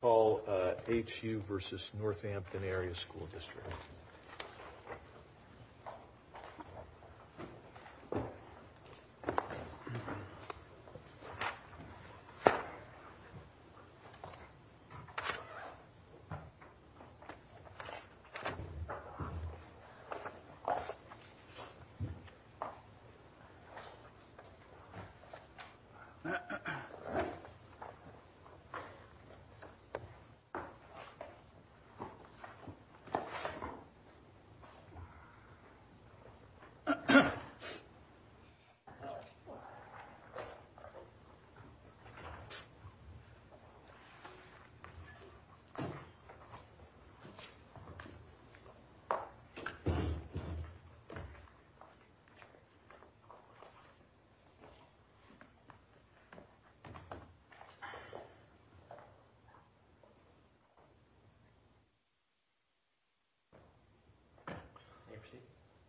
Call H.U. v. Northampton Area School District Call H.U. v. Northampton Area School District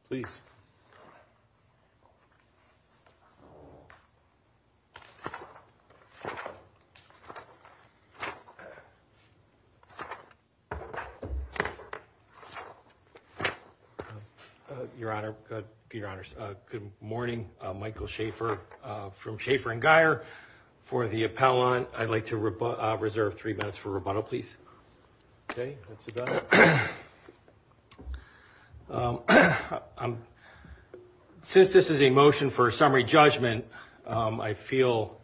Please. Your Honor, good morning. Michael Schaefer from Schaefer and Geyer for the appellant. I'd like to reserve three minutes for rebuttal, please. Okay, that's about it. Since this is a motion for a summary judgment, I feel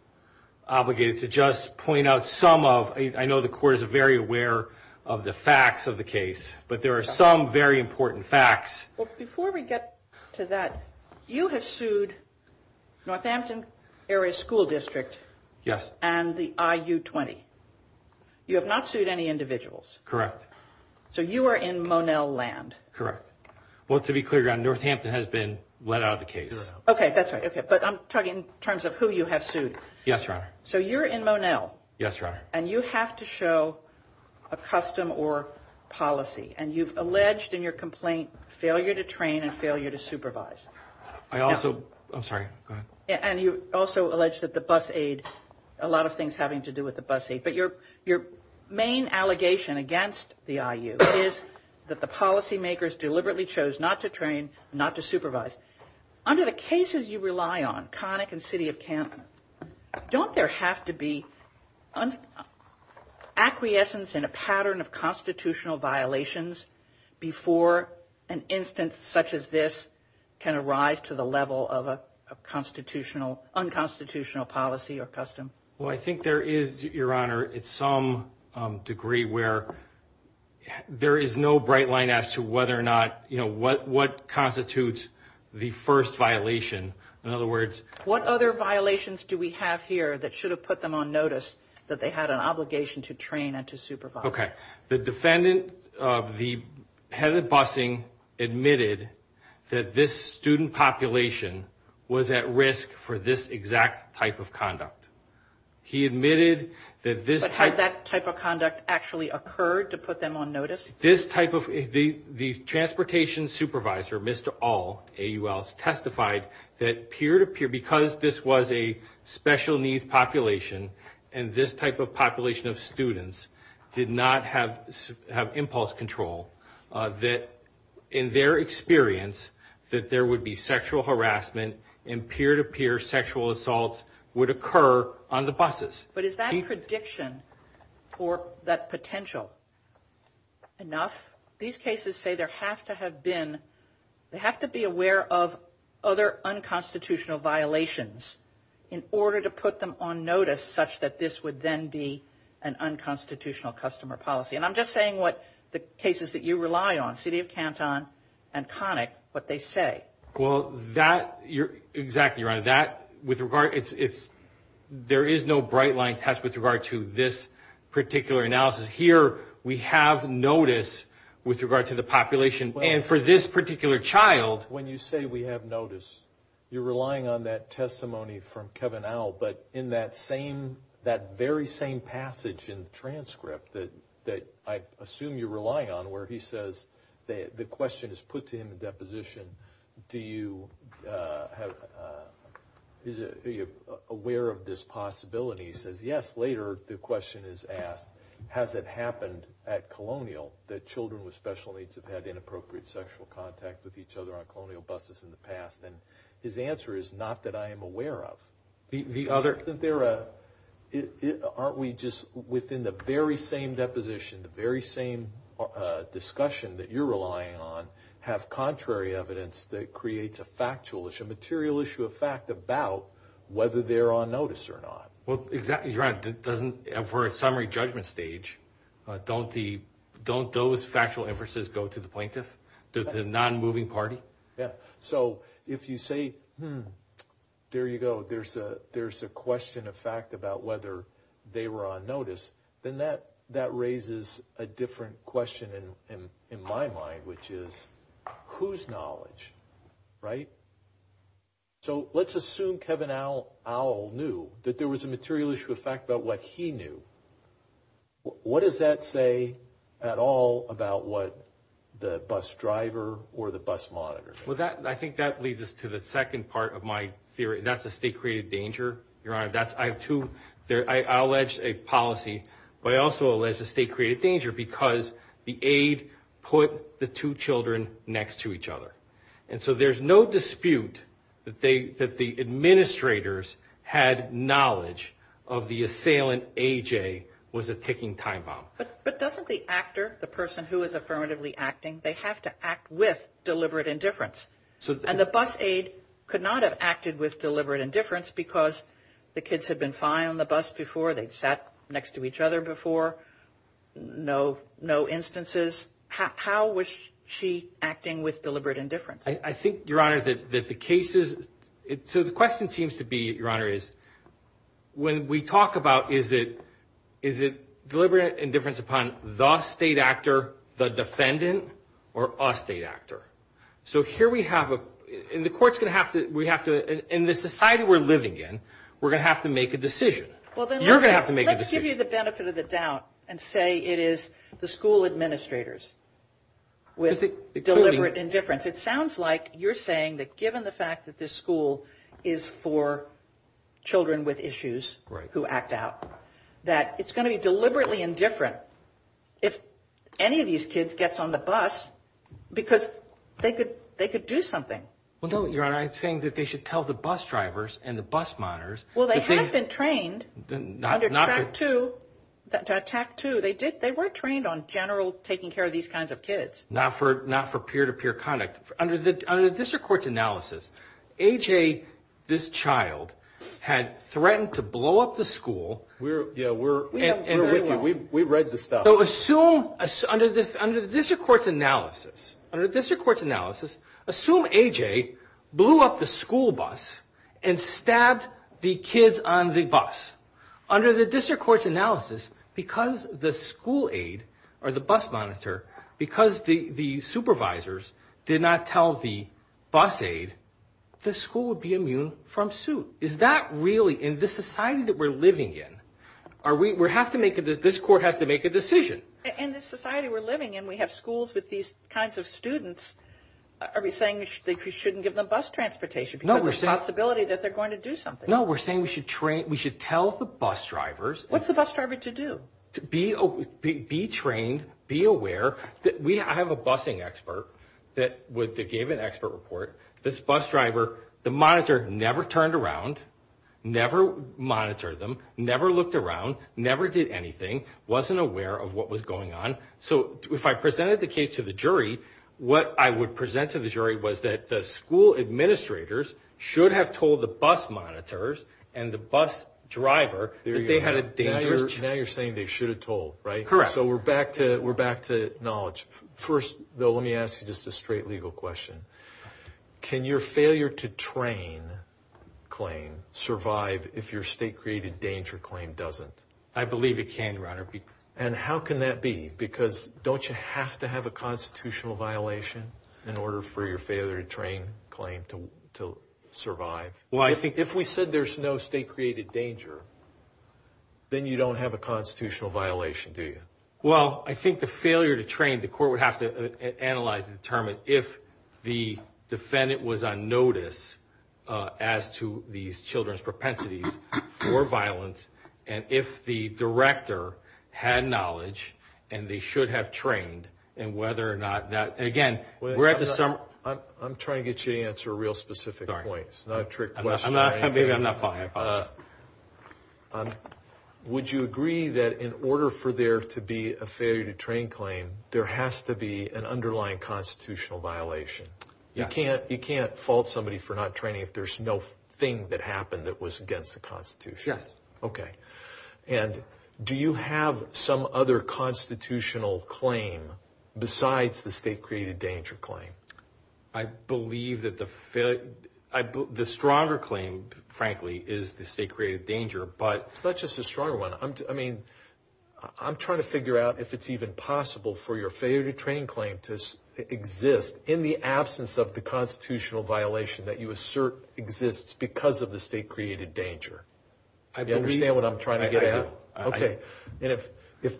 obligated to just point out some of the facts of the case, but there are some very important facts. Before we get to that, you have sued Northampton Area School District and the I.U. 20. You have not sued any individuals. Correct. So you are in Monell land. Correct. Well, to be clear, Northampton has been let out of the case. Okay, that's right. But I'm talking in terms of who you have sued. Yes, Your Honor. So you're in Monell. Yes, Your Honor. And you have to show a custom or policy, and you've alleged in your complaint failure to train and failure to supervise. I also – I'm sorry, go ahead. And you also allege that the bus aid, a lot of things having to do with the bus aid. But your main allegation against the I.U. is that the policy makers deliberately chose not to train, not to supervise. Under the cases you rely on, Connick and City of Canton, don't there have to be acquiescence in a pattern of constitutional violations before an instance such as this can arise to the level of a constitutional – unconstitutional policy or custom? Well, I think there is, Your Honor, to some degree where there is no bright line as to whether or not – what constitutes the first violation. In other words – What other violations do we have here that should have put them on notice that they had an obligation to train and to supervise? Okay. The defendant, the head of busing, admitted that this student population was at risk for this exact type of conduct. He admitted that this type – But had that type of conduct actually occurred to put them on notice? This type of – the transportation supervisor, Mr. Aul, A-U-L, testified that peer-to-peer, because this was a special needs population and this type of population of students did not have impulse control, that in their experience that there would be sexual harassment and peer-to-peer sexual assaults would occur on the buses. But is that prediction or that potential enough? These cases say there have to have been – they have to be aware of other unconstitutional violations in order to put them on notice such that this would then be an unconstitutional customer policy. And I'm just saying what the cases that you rely on, City of Canton and Connick, what they say. Well, that – exactly, Your Honor. That – with regard – it's – there is no bright-line test with regard to this particular analysis. Here we have notice with regard to the population. And for this particular child –– testimony from Kevin Aul, but in that same – that very same passage in the transcript that I assume you rely on where he says the question is put to him in deposition, do you have – are you aware of this possibility? He says, yes. Later the question is asked, has it happened at Colonial that children with special needs have had inappropriate sexual contact with each other on Colonial buses in the past? And his answer is, not that I am aware of. The other – Isn't there a – aren't we just within the very same deposition, the very same discussion that you're relying on, have contrary evidence that creates a factual issue, a material issue of fact about whether they're on notice or not? Well, exactly, Your Honor. It doesn't – for a summary judgment stage, don't the – don't those factual inferences go to the plaintiff, the non-moving party? Yeah. So if you say, hmm, there you go, there's a question of fact about whether they were on notice, then that raises a different question in my mind, which is whose knowledge, right? So let's assume Kevin Aul knew that there was a material issue of fact about what he knew. What does that say at all about what the bus driver or the bus monitor? Well, that – I think that leads us to the second part of my theory, and that's a state-created danger, Your Honor. That's – I have two – I allege a policy, but I also allege a state-created danger because the aide put the two children next to each other. And so there's no dispute that they – that knowledge of the assailant, A.J., was a ticking time bomb. But doesn't the actor, the person who is affirmatively acting, they have to act with deliberate indifference? And the bus aide could not have acted with deliberate indifference because the kids had been fine on the bus before, they'd sat next to each other before, no instances. How was she acting with deliberate indifference? I think, Your Honor, that the cases – so the question seems to be, Your Honor, is when we talk about is it deliberate indifference upon the state actor, the defendant, or a state actor? So here we have a – and the court's going to have to – we have to – in the society we're living in, we're going to have to make a decision. You're going to have to make a decision. Well, then let's give you the benefit of the doubt and say it is the school administrators with deliberate indifference. It sounds like you're saying that given the fact that this school is for children with issues who act out, that it's going to be deliberately indifferent if any of these kids gets on the bus because they could do something. Well, no, Your Honor. I'm saying that they should tell the bus drivers and the bus monitors that they – Well, they have been trained – Not to –– to attack, too. They were trained on general taking care of these kinds of kids. Not for peer-to-peer conduct. Under the district court's analysis, AJ, this child, had threatened to blow up the school. Yeah, we're with you. We read the stuff. So assume – under the district court's analysis, assume AJ blew up the school bus and stabbed the kids on the bus. Under the district court's analysis, because the school aide or the bus monitor, because the supervisors did not tell the bus aide, the school would be immune from suit. Is that really – in the society that we're living in, are we – we have to make – this court has to make a decision. In the society we're living in, we have schools with these kinds of students. Are we saying that we shouldn't give them bus transportation because there's a possibility that they're going to do something? No, we're saying we should tell the bus drivers – What's the bus driver to do? Be trained, be aware. I have a bussing expert that gave an expert report. This bus driver, the monitor never turned around, never monitored them, never looked around, never did anything, wasn't aware of what was going on. So if I presented the case to the jury, what I would present to the jury was that the school administrators should have told the bus monitors and the bus driver that they had a dangerous – Now you're saying they should have told, right? Correct. So we're back to knowledge. First, though, let me ask you just a straight legal question. Can your failure to train claim survive if your state-created danger claim doesn't? I believe it can, Your Honor. And how can that be? Because don't you have to have a constitutional violation in order for your failure to train claim to survive? Well, I think if we said there's no state-created danger, then you don't have a constitutional violation, do you? Well, I think the failure to train, the court would have to analyze and determine if the defendant was on notice as to these children's propensities for violence and if the director had knowledge and they should have trained and whether or not that – I'm trying to get you to answer a real specific point. Sorry. It's not a trick question. Maybe I'm not following. Would you agree that in order for there to be a failure to train claim, there has to be an underlying constitutional violation? Yes. You can't fault somebody for not training if there's no thing that happened that was against the Constitution? Yes. Okay. And do you have some other constitutional claim besides the state-created danger claim? I believe that the failure – the stronger claim, frankly, is the state-created danger, but – It's not just the stronger one. I mean, I'm trying to figure out if it's even possible for your failure to train claim to exist in the absence of the constitutional violation that you assert exists because of the state-created danger. I believe – Do you understand what I'm trying to get at? I do. Okay. And if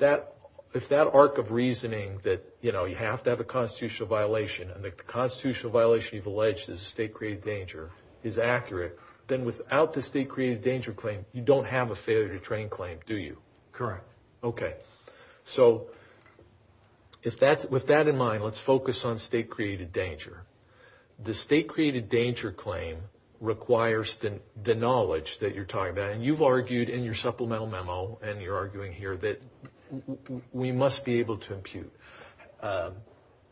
that arc of reasoning that, you know, you have to have a constitutional violation and the constitutional violation you've alleged is a state-created danger is accurate, then without the state-created danger claim, you don't have a failure to train claim, do you? Correct. Okay. So with that in mind, let's focus on state-created danger. The state-created danger claim requires the knowledge that you're talking about. And you've argued in your supplemental memo, and you're arguing here, that we must be able to impute.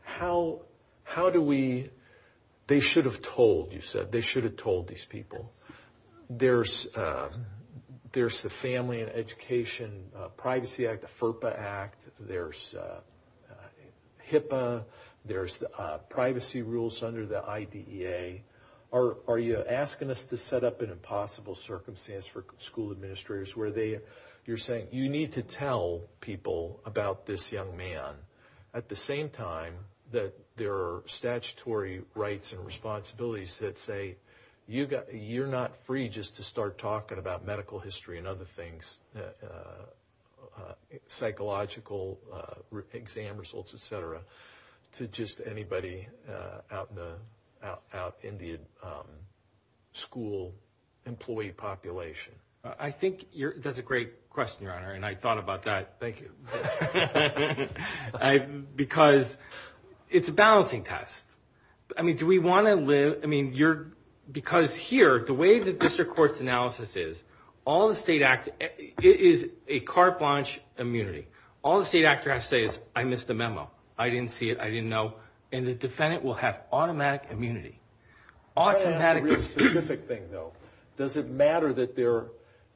How do we – they should have told, you said. They should have told these people. There's the Family and Education Privacy Act, the FERPA Act. There's HIPAA. There's privacy rules under the IDEA. Are you asking us to set up an impossible circumstance for school administrators where they – you're saying you need to tell people about this young man at the same time that there are statutory rights and responsibilities that say you're not free just to start talking about medical history and other things, psychological exam results, et cetera, to just anybody out in the school employee population? I think that's a great question, Your Honor, and I thought about that. Thank you. Because it's a balancing test. I mean, do we want to live – I mean, you're – because here, the way the district court's analysis is, all the state – it is a carte blanche immunity. All the state actors have to say is, I missed the memo. I didn't see it. I didn't know. And the defendant will have automatic immunity. Automatic – Can I ask a real specific thing, though? Does it matter that there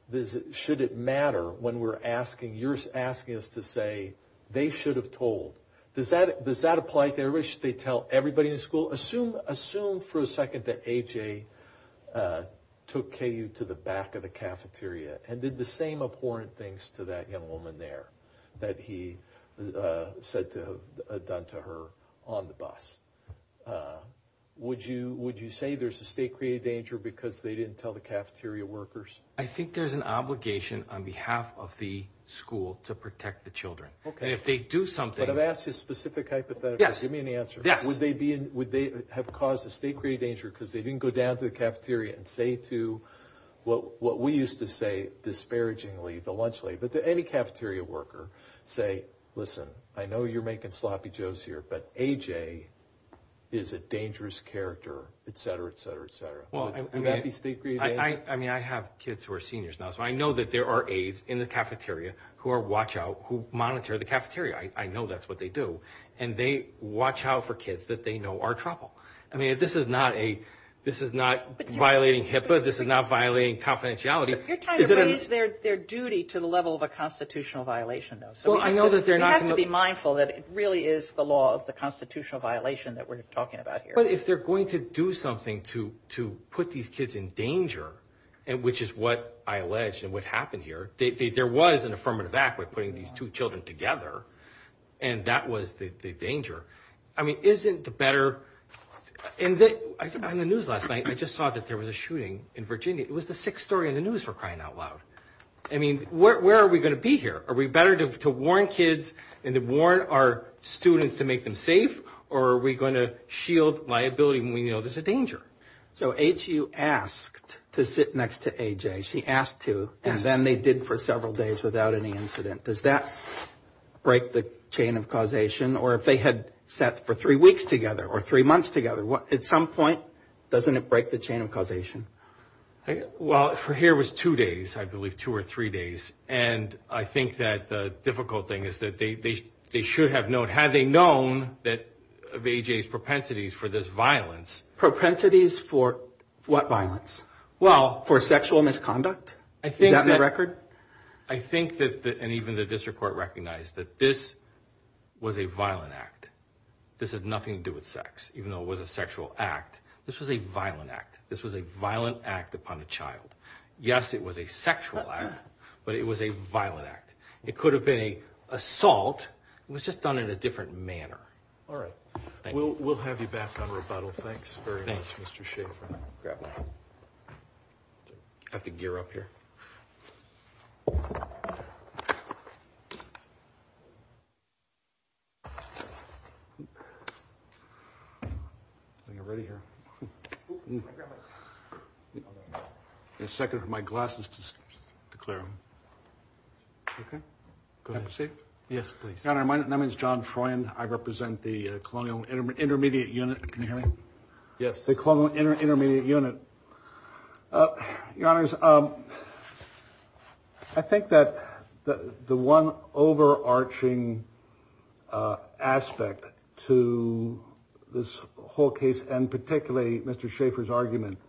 – should it matter when we're asking – you're asking us to say they should have told? Does that apply to everybody? Should they tell everybody in the school? Well, assume for a second that A.J. took K.U. to the back of the cafeteria and did the same abhorrent things to that young woman there that he said to have done to her on the bus. Would you say there's a state-created danger because they didn't tell the cafeteria workers? I think there's an obligation on behalf of the school to protect the children. Okay. And if they do something – But I've asked a specific hypothetical. Yes. Give me an answer. Yes. Would they have caused a state-created danger because they didn't go down to the cafeteria and say to what we used to say disparagingly, voluntarily, but to any cafeteria worker, say, listen, I know you're making sloppy jokes here, but A.J. is a dangerous character, et cetera, et cetera, et cetera. Well, I mean – Would that be state-created danger? I mean, I have kids who are seniors now, so I know that there are aides in the cafeteria who are watch out, who monitor the cafeteria. I know that's what they do. And they watch out for kids that they know are trouble. I mean, this is not a – this is not violating HIPAA. This is not violating confidentiality. You're trying to raise their duty to the level of a constitutional violation, though. Well, I know that they're not going to – You have to be mindful that it really is the law of the constitutional violation that we're talking about here. But if they're going to do something to put these kids in danger, which is what I allege and what happened here, there was an affirmative act by putting these two children together, and that was the danger. I mean, isn't the better – in the news last night, I just saw that there was a shooting in Virginia. It was the sixth story in the news, for crying out loud. I mean, where are we going to be here? Are we better to warn kids and to warn our students to make them safe, or are we going to shield liability when we know there's a danger? So H.U. asked to sit next to A.J. She asked to, and then they did for several days without any incident. Does that break the chain of causation? Or if they had sat for three weeks together or three months together, at some point, doesn't it break the chain of causation? Well, for here it was two days, I believe, two or three days. And I think that the difficult thing is that they should have known. Had they known that – of A.J.'s propensities for this violence – Propensities for what violence? Well – For sexual misconduct? Is that in the record? I think that – and even the district court recognized that this was a violent act. This had nothing to do with sex, even though it was a sexual act. This was a violent act. This was a violent act upon a child. Yes, it was a sexual act, but it was a violent act. It could have been an assault. It was just done in a different manner. All right. We'll have you back on rebuttal. Thanks very much, Mr. Schaffer. I have to gear up here. A second for my glasses to clear. Okay. Go ahead. Have a seat. Yes, please. My name is John Froyen. I represent the Colonial Intermediate Unit. Can you hear me? Yes. The Colonial Intermediate Unit. Your Honors, I think that the one overarching aspect to this whole case, and particularly Mr. Schaffer's argument,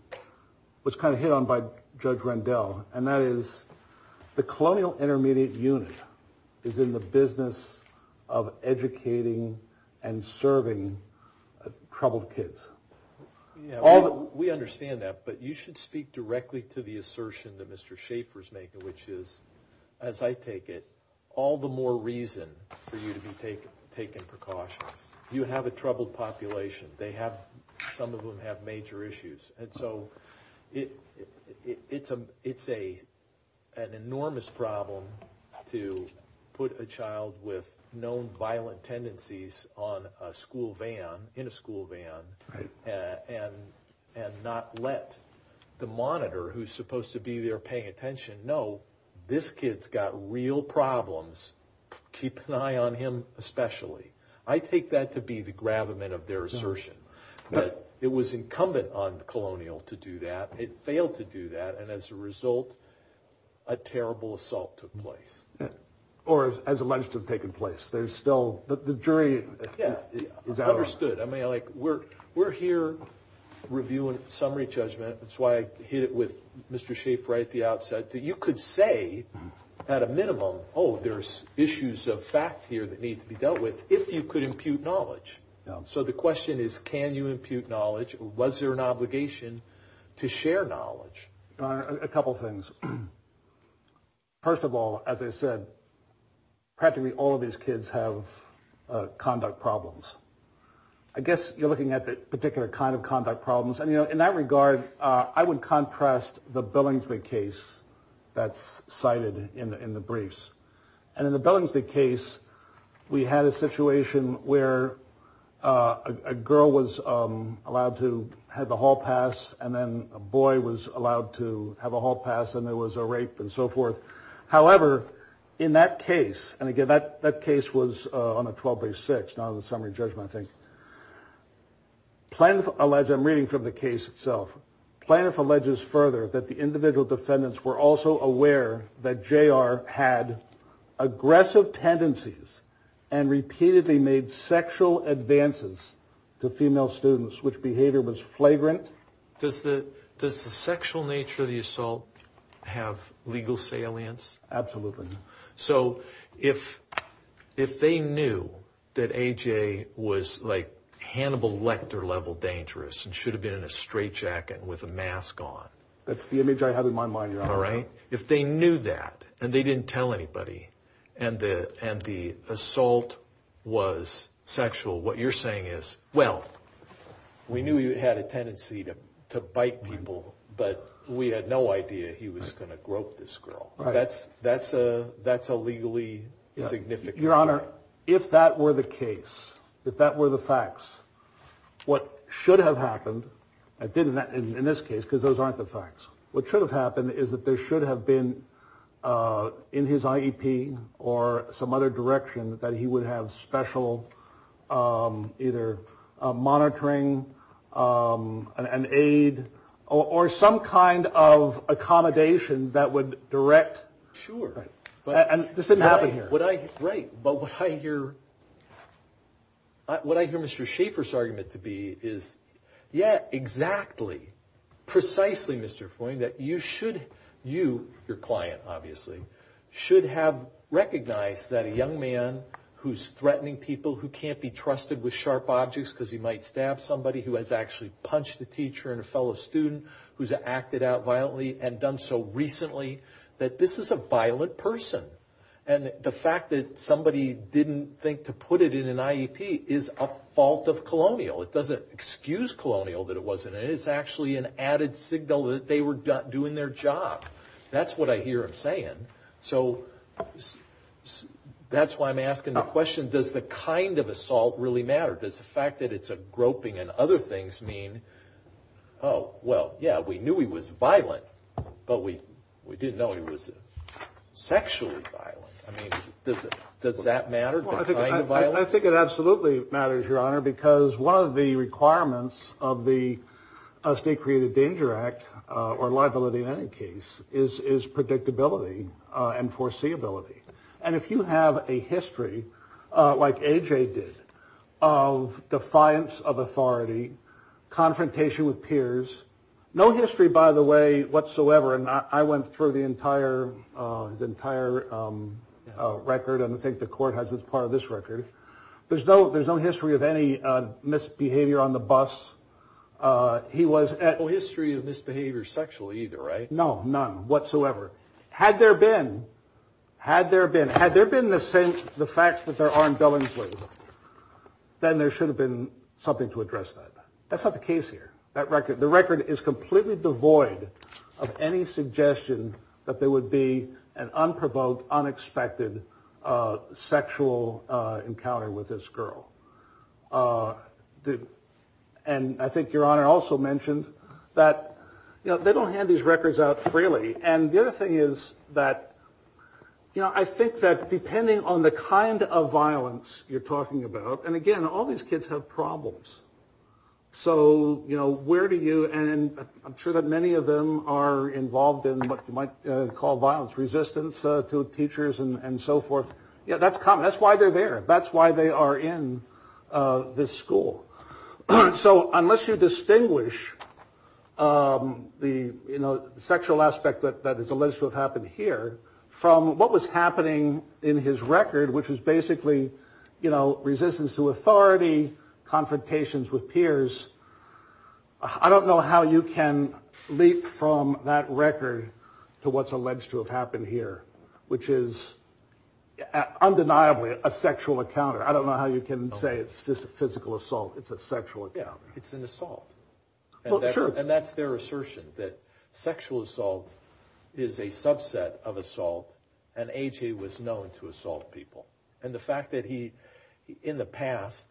was kind of hit on by Judge Rendell, and that is the Colonial Intermediate Unit is in the business of educating and serving troubled kids. We understand that, but you should speak directly to the assertion that Mr. Schaffer's making, which is, as I take it, all the more reason for you to be taking precautions. You have a troubled population. Some of them have major issues. And so it's an enormous problem to put a child with known violent tendencies on a school van, in a school van, and not let the monitor, who's supposed to be there paying attention, know this kid's got real problems. Keep an eye on him especially. I take that to be the gravamen of their assertion. But it was incumbent on the Colonial to do that. It failed to do that, and as a result, a terrible assault took place. Or as alleged to have taken place. There's still the jury is out on it. Understood. We're here reviewing summary judgment. That's why I hit it with Mr. Schaffer right at the outset. You could say at a minimum, oh, there's issues of fact here that need to be dealt with, if you could impute knowledge. So the question is, can you impute knowledge? Was there an obligation to share knowledge? A couple things. First of all, as I said, practically all of these kids have conduct problems. I guess you're looking at the particular kind of conduct problems. And, you know, in that regard, I would contrast the Billingsley case that's cited in the briefs. And in the Billingsley case, we had a situation where a girl was allowed to have the hall pass, and then a boy was allowed to have a hall pass, and there was a rape and so forth. However, in that case, and again, that case was on a 12-by-6, not on a summary judgment, I think. Plaintiff alleged, I'm reading from the case itself, Plaintiff alleges further that the individual defendants were also aware that J.R. had aggressive tendencies and repeatedly made sexual advances to female students, which behavior was flagrant. Does the sexual nature of the assault have legal salience? Absolutely. So if they knew that A.J. was, like, Hannibal Lecter-level dangerous and should have been in a straitjacket with a mask on. That's the image I have in my mind, Your Honor. If they knew that, and they didn't tell anybody, and the assault was sexual, what you're saying is, well, we knew he had a tendency to bite people, but we had no idea he was going to grope this girl. That's a legally significant crime. Your Honor, if that were the case, if that were the facts, what should have happened, and it didn't in this case because those aren't the facts, what should have happened is that there should have been in his IEP or some other direction that he would have special either monitoring, an aid, or some kind of accommodation that would direct. Sure. And this didn't happen here. Right. But what I hear Mr. Schaefer's argument to be is, yeah, exactly, precisely, Mr. Foyne, that you should, you, your client, obviously, should have recognized that a young man who's threatening people, who can't be trusted with sharp objects because he might stab somebody, who has actually punched a teacher and a fellow student, who's acted out violently and done so recently, that this is a violent person. And the fact that somebody didn't think to put it in an IEP is a fault of colonial. It doesn't excuse colonial that it wasn't, and it's actually an added signal that they were doing their job. That's what I hear him saying. So that's why I'm asking the question, does the kind of assault really matter? Does the fact that it's a groping and other things mean, oh, well, yeah, we knew he was violent, but we didn't know he was sexually violent. I mean, does that matter, the kind of violence? I think it absolutely matters, Your Honor, because one of the requirements of the State Created Danger Act, or liability in any case, is predictability and foreseeability. And if you have a history, like A.J. did, of defiance of authority, confrontation with peers, no history, by the way, whatsoever, and I went through the entire record, and I think the Court has as part of this record, there's no history of any misbehavior on the bus. No history of misbehavior sexually either, right? No, none whatsoever. Had there been, had there been, had there been the facts that there are in Billingsley, then there should have been something to address that. That's not the case here. That record, the record is completely devoid of any suggestion that there would be an unprovoked, unexpected sexual encounter with this girl. And I think Your Honor also mentioned that, you know, they don't hand these records out freely. And the other thing is that, you know, I think that depending on the kind of violence you're talking about, and again, all these kids have problems. So, you know, where do you, and I'm sure that many of them are involved in what you might call violence resistance to teachers and so forth. Yeah, that's common. That's why they're there. That's why they are in this school. So unless you distinguish the sexual aspect that is alleged to have happened here from what was happening in his record, which was basically, you know, resistance to authority, confrontations with peers. I don't know how you can leap from that record to what's alleged to have happened here, which is undeniably a sexual encounter. I don't know how you can say it's just a physical assault. It's a sexual encounter. Yeah, it's an assault. And that's their assertion, that sexual assault is a subset of assault, and AJ was known to assault people. And the fact that he, in the past,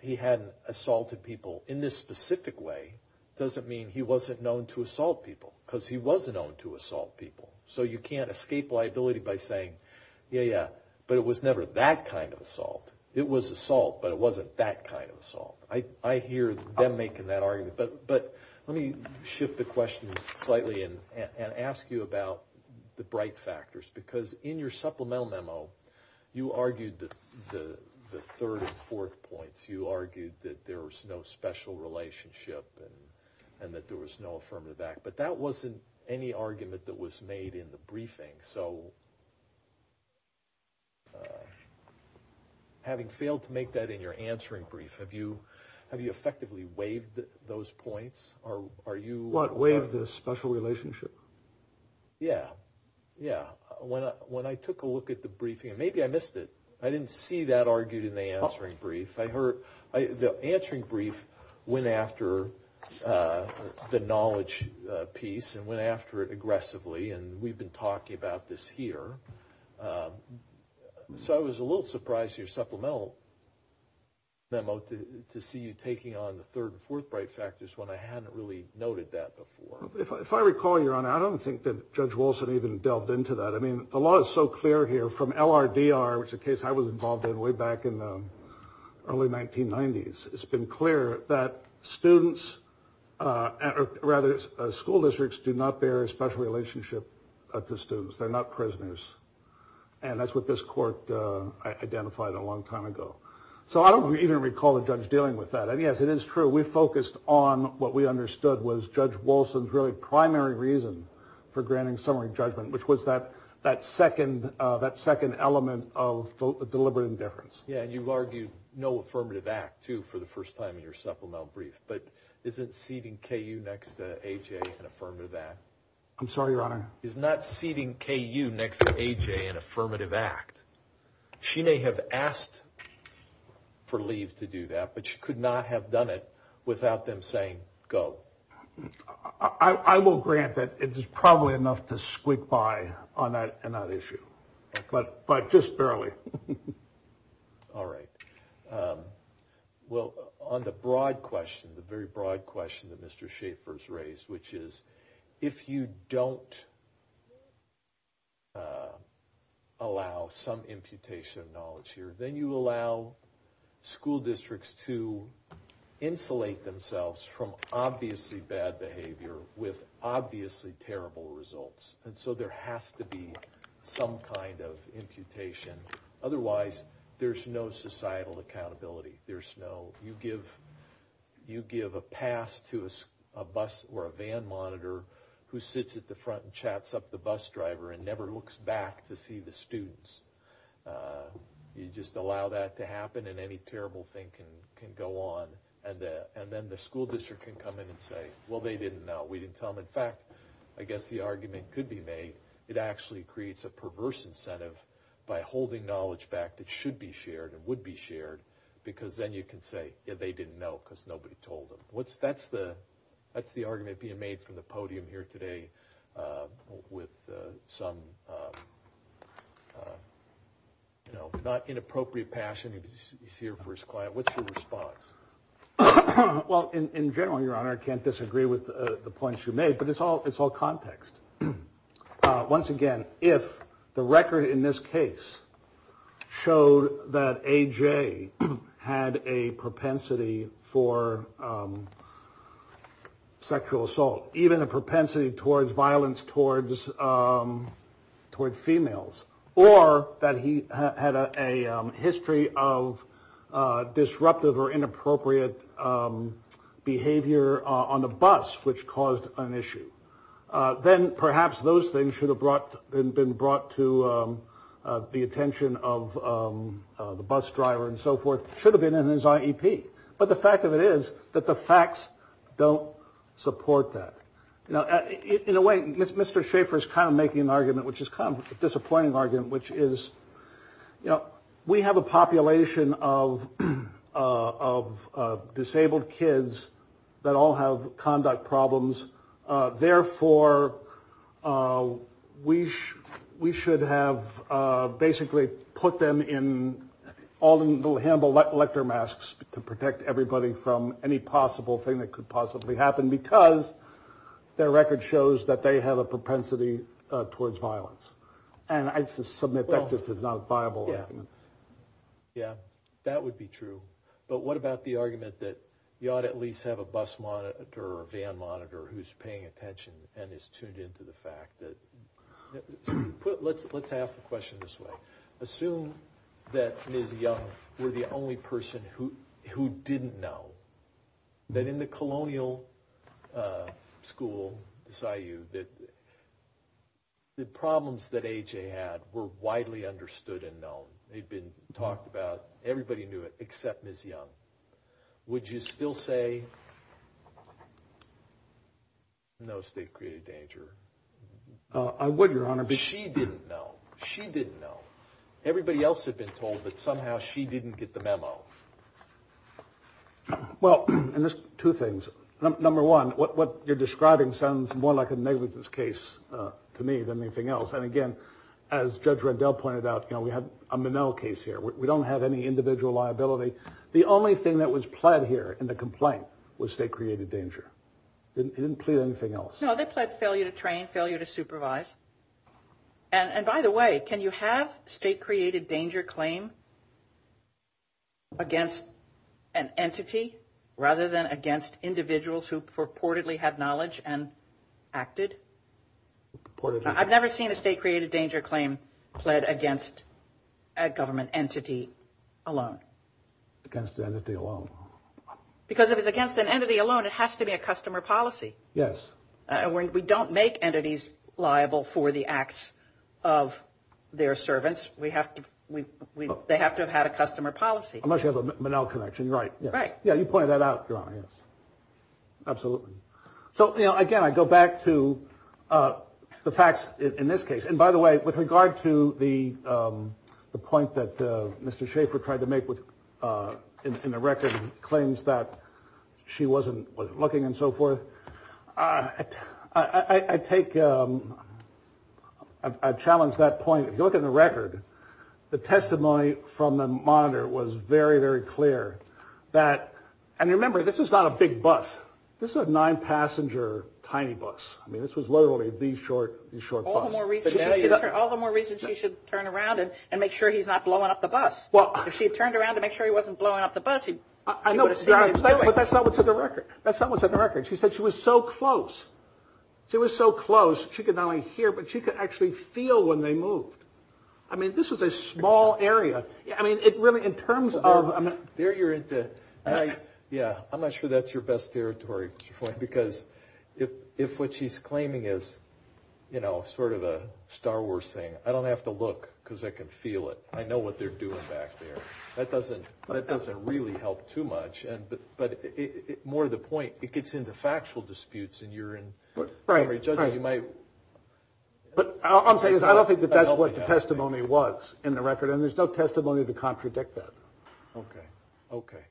he had assaulted people in this specific way doesn't mean he wasn't known to assault people, because he was known to assault people. So you can't escape liability by saying, yeah, yeah, but it was never that kind of assault. It was assault, but it wasn't that kind of assault. I hear them making that argument. But let me shift the question slightly and ask you about the bright factors, because in your supplemental memo, you argued the third and fourth points. You argued that there was no special relationship and that there was no affirmative act. But that wasn't any argument that was made in the briefing. So having failed to make that in your answering brief, have you effectively waived those points? What, waived the special relationship? Yeah, yeah. When I took a look at the briefing, and maybe I missed it, I didn't see that argued in the answering brief. The answering brief went after the knowledge piece and went after it aggressively, and we've been talking about this here. So I was a little surprised in your supplemental memo to see you taking on the third and fourth bright factors when I hadn't really noted that before. If I recall, Your Honor, I don't think that Judge Wilson even delved into that. I mean, the law is so clear here from LRDR, which is a case I was involved in way back in the early 1990s. It's been clear that students, or rather school districts, do not bear a special relationship to students. They're not prisoners. And that's what this court identified a long time ago. So I don't even recall the judge dealing with that. And, yes, it is true. We focused on what we understood was Judge Wilson's really primary reason for granting summary judgment, which was that second element of deliberate indifference. Yeah, and you've argued no affirmative act, too, for the first time in your supplemental brief. But isn't seating KU next to AJ an affirmative act? I'm sorry, Your Honor. Isn't that seating KU next to AJ an affirmative act? She may have asked for leave to do that, but she could not have done it without them saying go. I will grant that it is probably enough to squeak by on that issue, but just barely. All right. Well, on the broad question, the very broad question that Mr. Schaffer has raised, which is if you don't allow some imputation of knowledge here, then you allow school districts to insulate themselves from obviously bad behavior with obviously terrible results. And so there has to be some kind of imputation. Otherwise, there's no societal accountability. You give a pass to a bus or a van monitor who sits at the front and chats up the bus driver and never looks back to see the students. You just allow that to happen, and any terrible thing can go on. And then the school district can come in and say, well, they didn't know. We didn't tell them. In fact, I guess the argument could be made it actually creates a perverse incentive by holding knowledge back that should be shared and would be shared, because then you can say, yeah, they didn't know because nobody told them. That's the argument being made from the podium here today with some not inappropriate passion. He's here for his client. What's your response? Well, in general, Your Honor, I can't disagree with the points you made, but it's all context. Once again, if the record in this case showed that a J had a propensity for sexual assault, even a propensity towards violence, towards toward females, or that he had a history of disruptive or inappropriate behavior on the bus, which caused an issue. Then perhaps those things should have brought and been brought to the attention of the bus driver and so forth, should have been in his IEP. But the fact of it is that the facts don't support that. Now, in a way, Mr. Schaeffer is kind of making an argument, which is kind of a disappointing argument, which is, you know, we have a population of disabled kids that all have conduct problems. Therefore, we should have basically put them in all the little handball electromasks to protect everybody from any possible thing that could possibly happen, because their record shows that they have a propensity towards violence. And I submit that just is not a viable argument. Yeah, that would be true. But what about the argument that you ought to at least have a bus monitor or a van monitor who's paying attention and is tuned in to the fact that... Let's ask the question this way. Assume that Ms. Young were the only person who didn't know that in the colonial school, the SIU, that the problems that AJ had were widely understood and known. They'd been talked about. Everybody knew it except Ms. Young. Would you still say no state created danger? I would, Your Honor. But she didn't know. She didn't know. Everybody else had been told, but somehow she didn't get the memo. Well, and there's two things. Number one, what you're describing sounds more like a negligence case to me than anything else. And, again, as Judge Rendell pointed out, we have a Minnell case here. We don't have any individual liability. The only thing that was pled here in the complaint was state created danger. It didn't plead anything else. No, they pled failure to train, failure to supervise. And, by the way, can you have state created danger claim against an entity rather than against individuals who purportedly had knowledge and acted? I've never seen a state created danger claim pled against a government entity alone. Against an entity alone. Because if it's against an entity alone, it has to be a customer policy. Yes. We don't make entities liable for the acts of their servants. They have to have had a customer policy. Unless you have a Minnell connection, right. Right. Yeah, you pointed that out, Your Honor, yes. Absolutely. So, you know, again, I go back to the facts in this case. And, by the way, with regard to the point that Mr. Schaefer tried to make in the record, claims that she wasn't looking and so forth, I take a challenge that point. Look at the record. The testimony from the monitor was very, very clear that. And remember, this is not a big bus. This is a nine-passenger tiny bus. I mean, this was literally the short bus. All the more reason she should turn around and make sure he's not blowing up the bus. If she had turned around to make sure he wasn't blowing up the bus, he would have seen what he was doing. But that's not what's in the record. That's not what's in the record. She said she was so close. She was so close, she could not only hear, but she could actually feel when they moved. I mean, this was a small area. I mean, it really, in terms of... There you're into... I'm not sure that's your best territory, Mr. Foy, because if what she's claiming is, you know, sort of a Star Wars thing, I don't have to look because I can feel it. I know what they're doing back there. That doesn't really help too much. But more to the point, it gets into factual disputes, and you're in... Right, right. You might... But I'll say this. I don't think that that's what the testimony was in the record, and there's no testimony to contradict that. Okay, okay.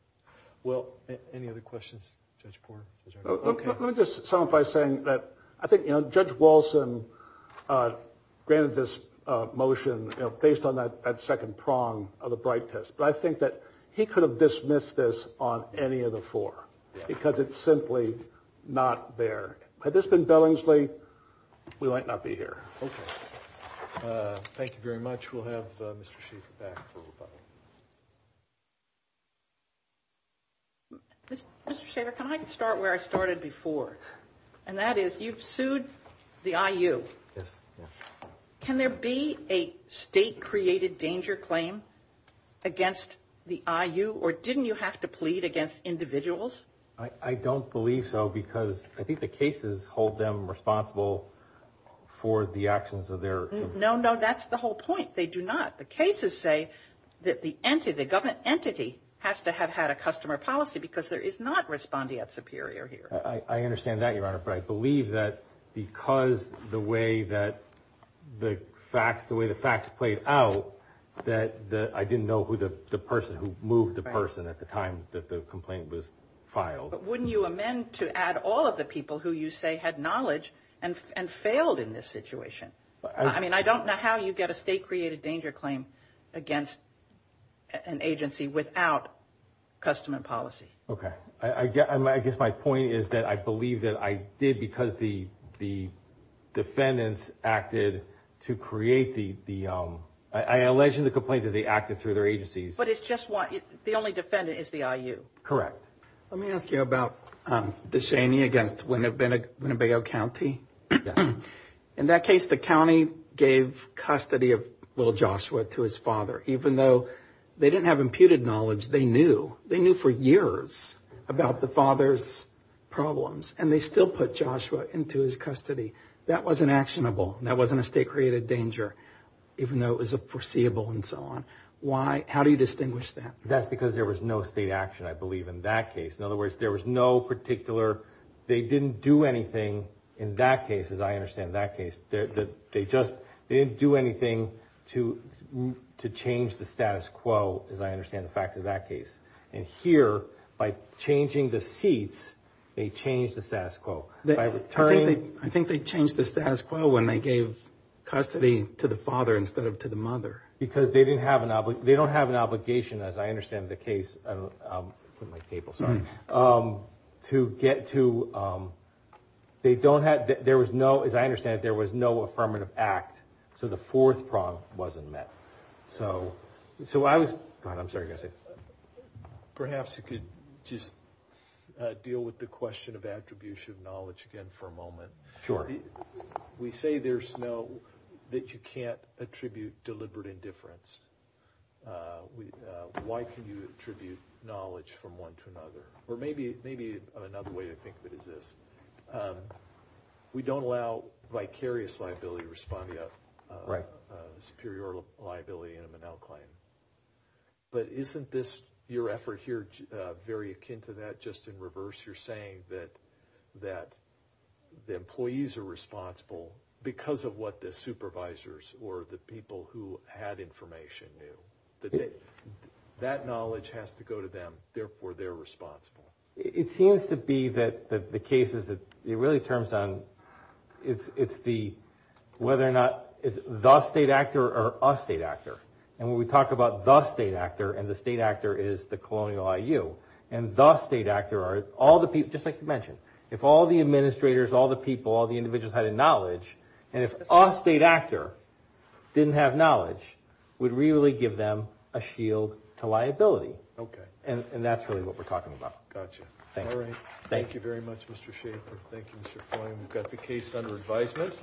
Well, any other questions, Judge Porn? Okay. Let me just sum up by saying that I think, you know, Judge Walson granted this motion based on that second prong of the Bright Test, but I think that he could have dismissed this on any of the four because it's simply not there. Had this been Billingsley, we might not be here. Okay. Thank you very much. We'll have Mr. Schieffer back for rebuttal. Mr. Schieffer, can I start where I started before, and that is you've sued the IU. Yes. Can there be a state-created danger claim against the IU, or didn't you have to plead against individuals? I don't believe so because I think the cases hold them responsible for the actions of their... No, no, that's the whole point. They do not. The cases say that the entity, the government entity, has to have had a customer policy because there is not respondeat superior here. I understand that, Your Honor, but I believe that because the way that the facts, the way the facts played out, that I didn't know who the person, who moved the person at the time that the complaint was filed. But wouldn't you amend to add all of the people who you say had knowledge and failed in this situation? I mean, I don't know how you get a state-created danger claim against an agency without customer policy. Okay. I guess my point is that I believe that I did because the defendants acted to create the... I allege in the complaint that they acted through their agencies. But it's just one... the only defendant is the IU. Correct. Let me ask you about Deshaney against Winnebago County. In that case, the county gave custody of Will Joshua to his father, even though they didn't have imputed knowledge. They knew. They knew for years about the father's problems, and they still put Joshua into his custody. That wasn't actionable. That wasn't a state-created danger, even though it was foreseeable and so on. Why? How do you distinguish that? That's because there was no state action, I believe, in that case. In other words, there was no particular... In that case, as I understand that case, they didn't do anything to change the status quo, as I understand the facts of that case. And here, by changing the seats, they changed the status quo. I think they changed the status quo when they gave custody to the father instead of to the mother. Because they don't have an obligation, as I understand the case... As I understand it, there was no affirmative act, so the fourth prong wasn't met. Perhaps you could just deal with the question of attribution of knowledge again for a moment. Sure. We say there's no... that you can't attribute deliberate indifference. Or maybe another way to think of it is this. We don't allow vicarious liability to respond to a superior liability in a Manel claim. But isn't your effort here very akin to that, just in reverse? You're saying that the employees are responsible because of what the supervisors or the people who had information knew. That that knowledge has to go to them, therefore they're responsible. It seems to be that the case is that it really turns on... It's the... whether or not it's the state actor or a state actor. And when we talk about the state actor, and the state actor is the Colonial IU, and the state actor are all the people... Just like you mentioned, if all the administrators, all the people, all the individuals had a knowledge, and if a state actor didn't have knowledge, it would really give them a shield to liability. Okay. And that's really what we're talking about. Gotcha. Thank you. All right. Thank you very much, Mr. Schaefer. Thank you, Mr. Coyne. We've got the case under advisement.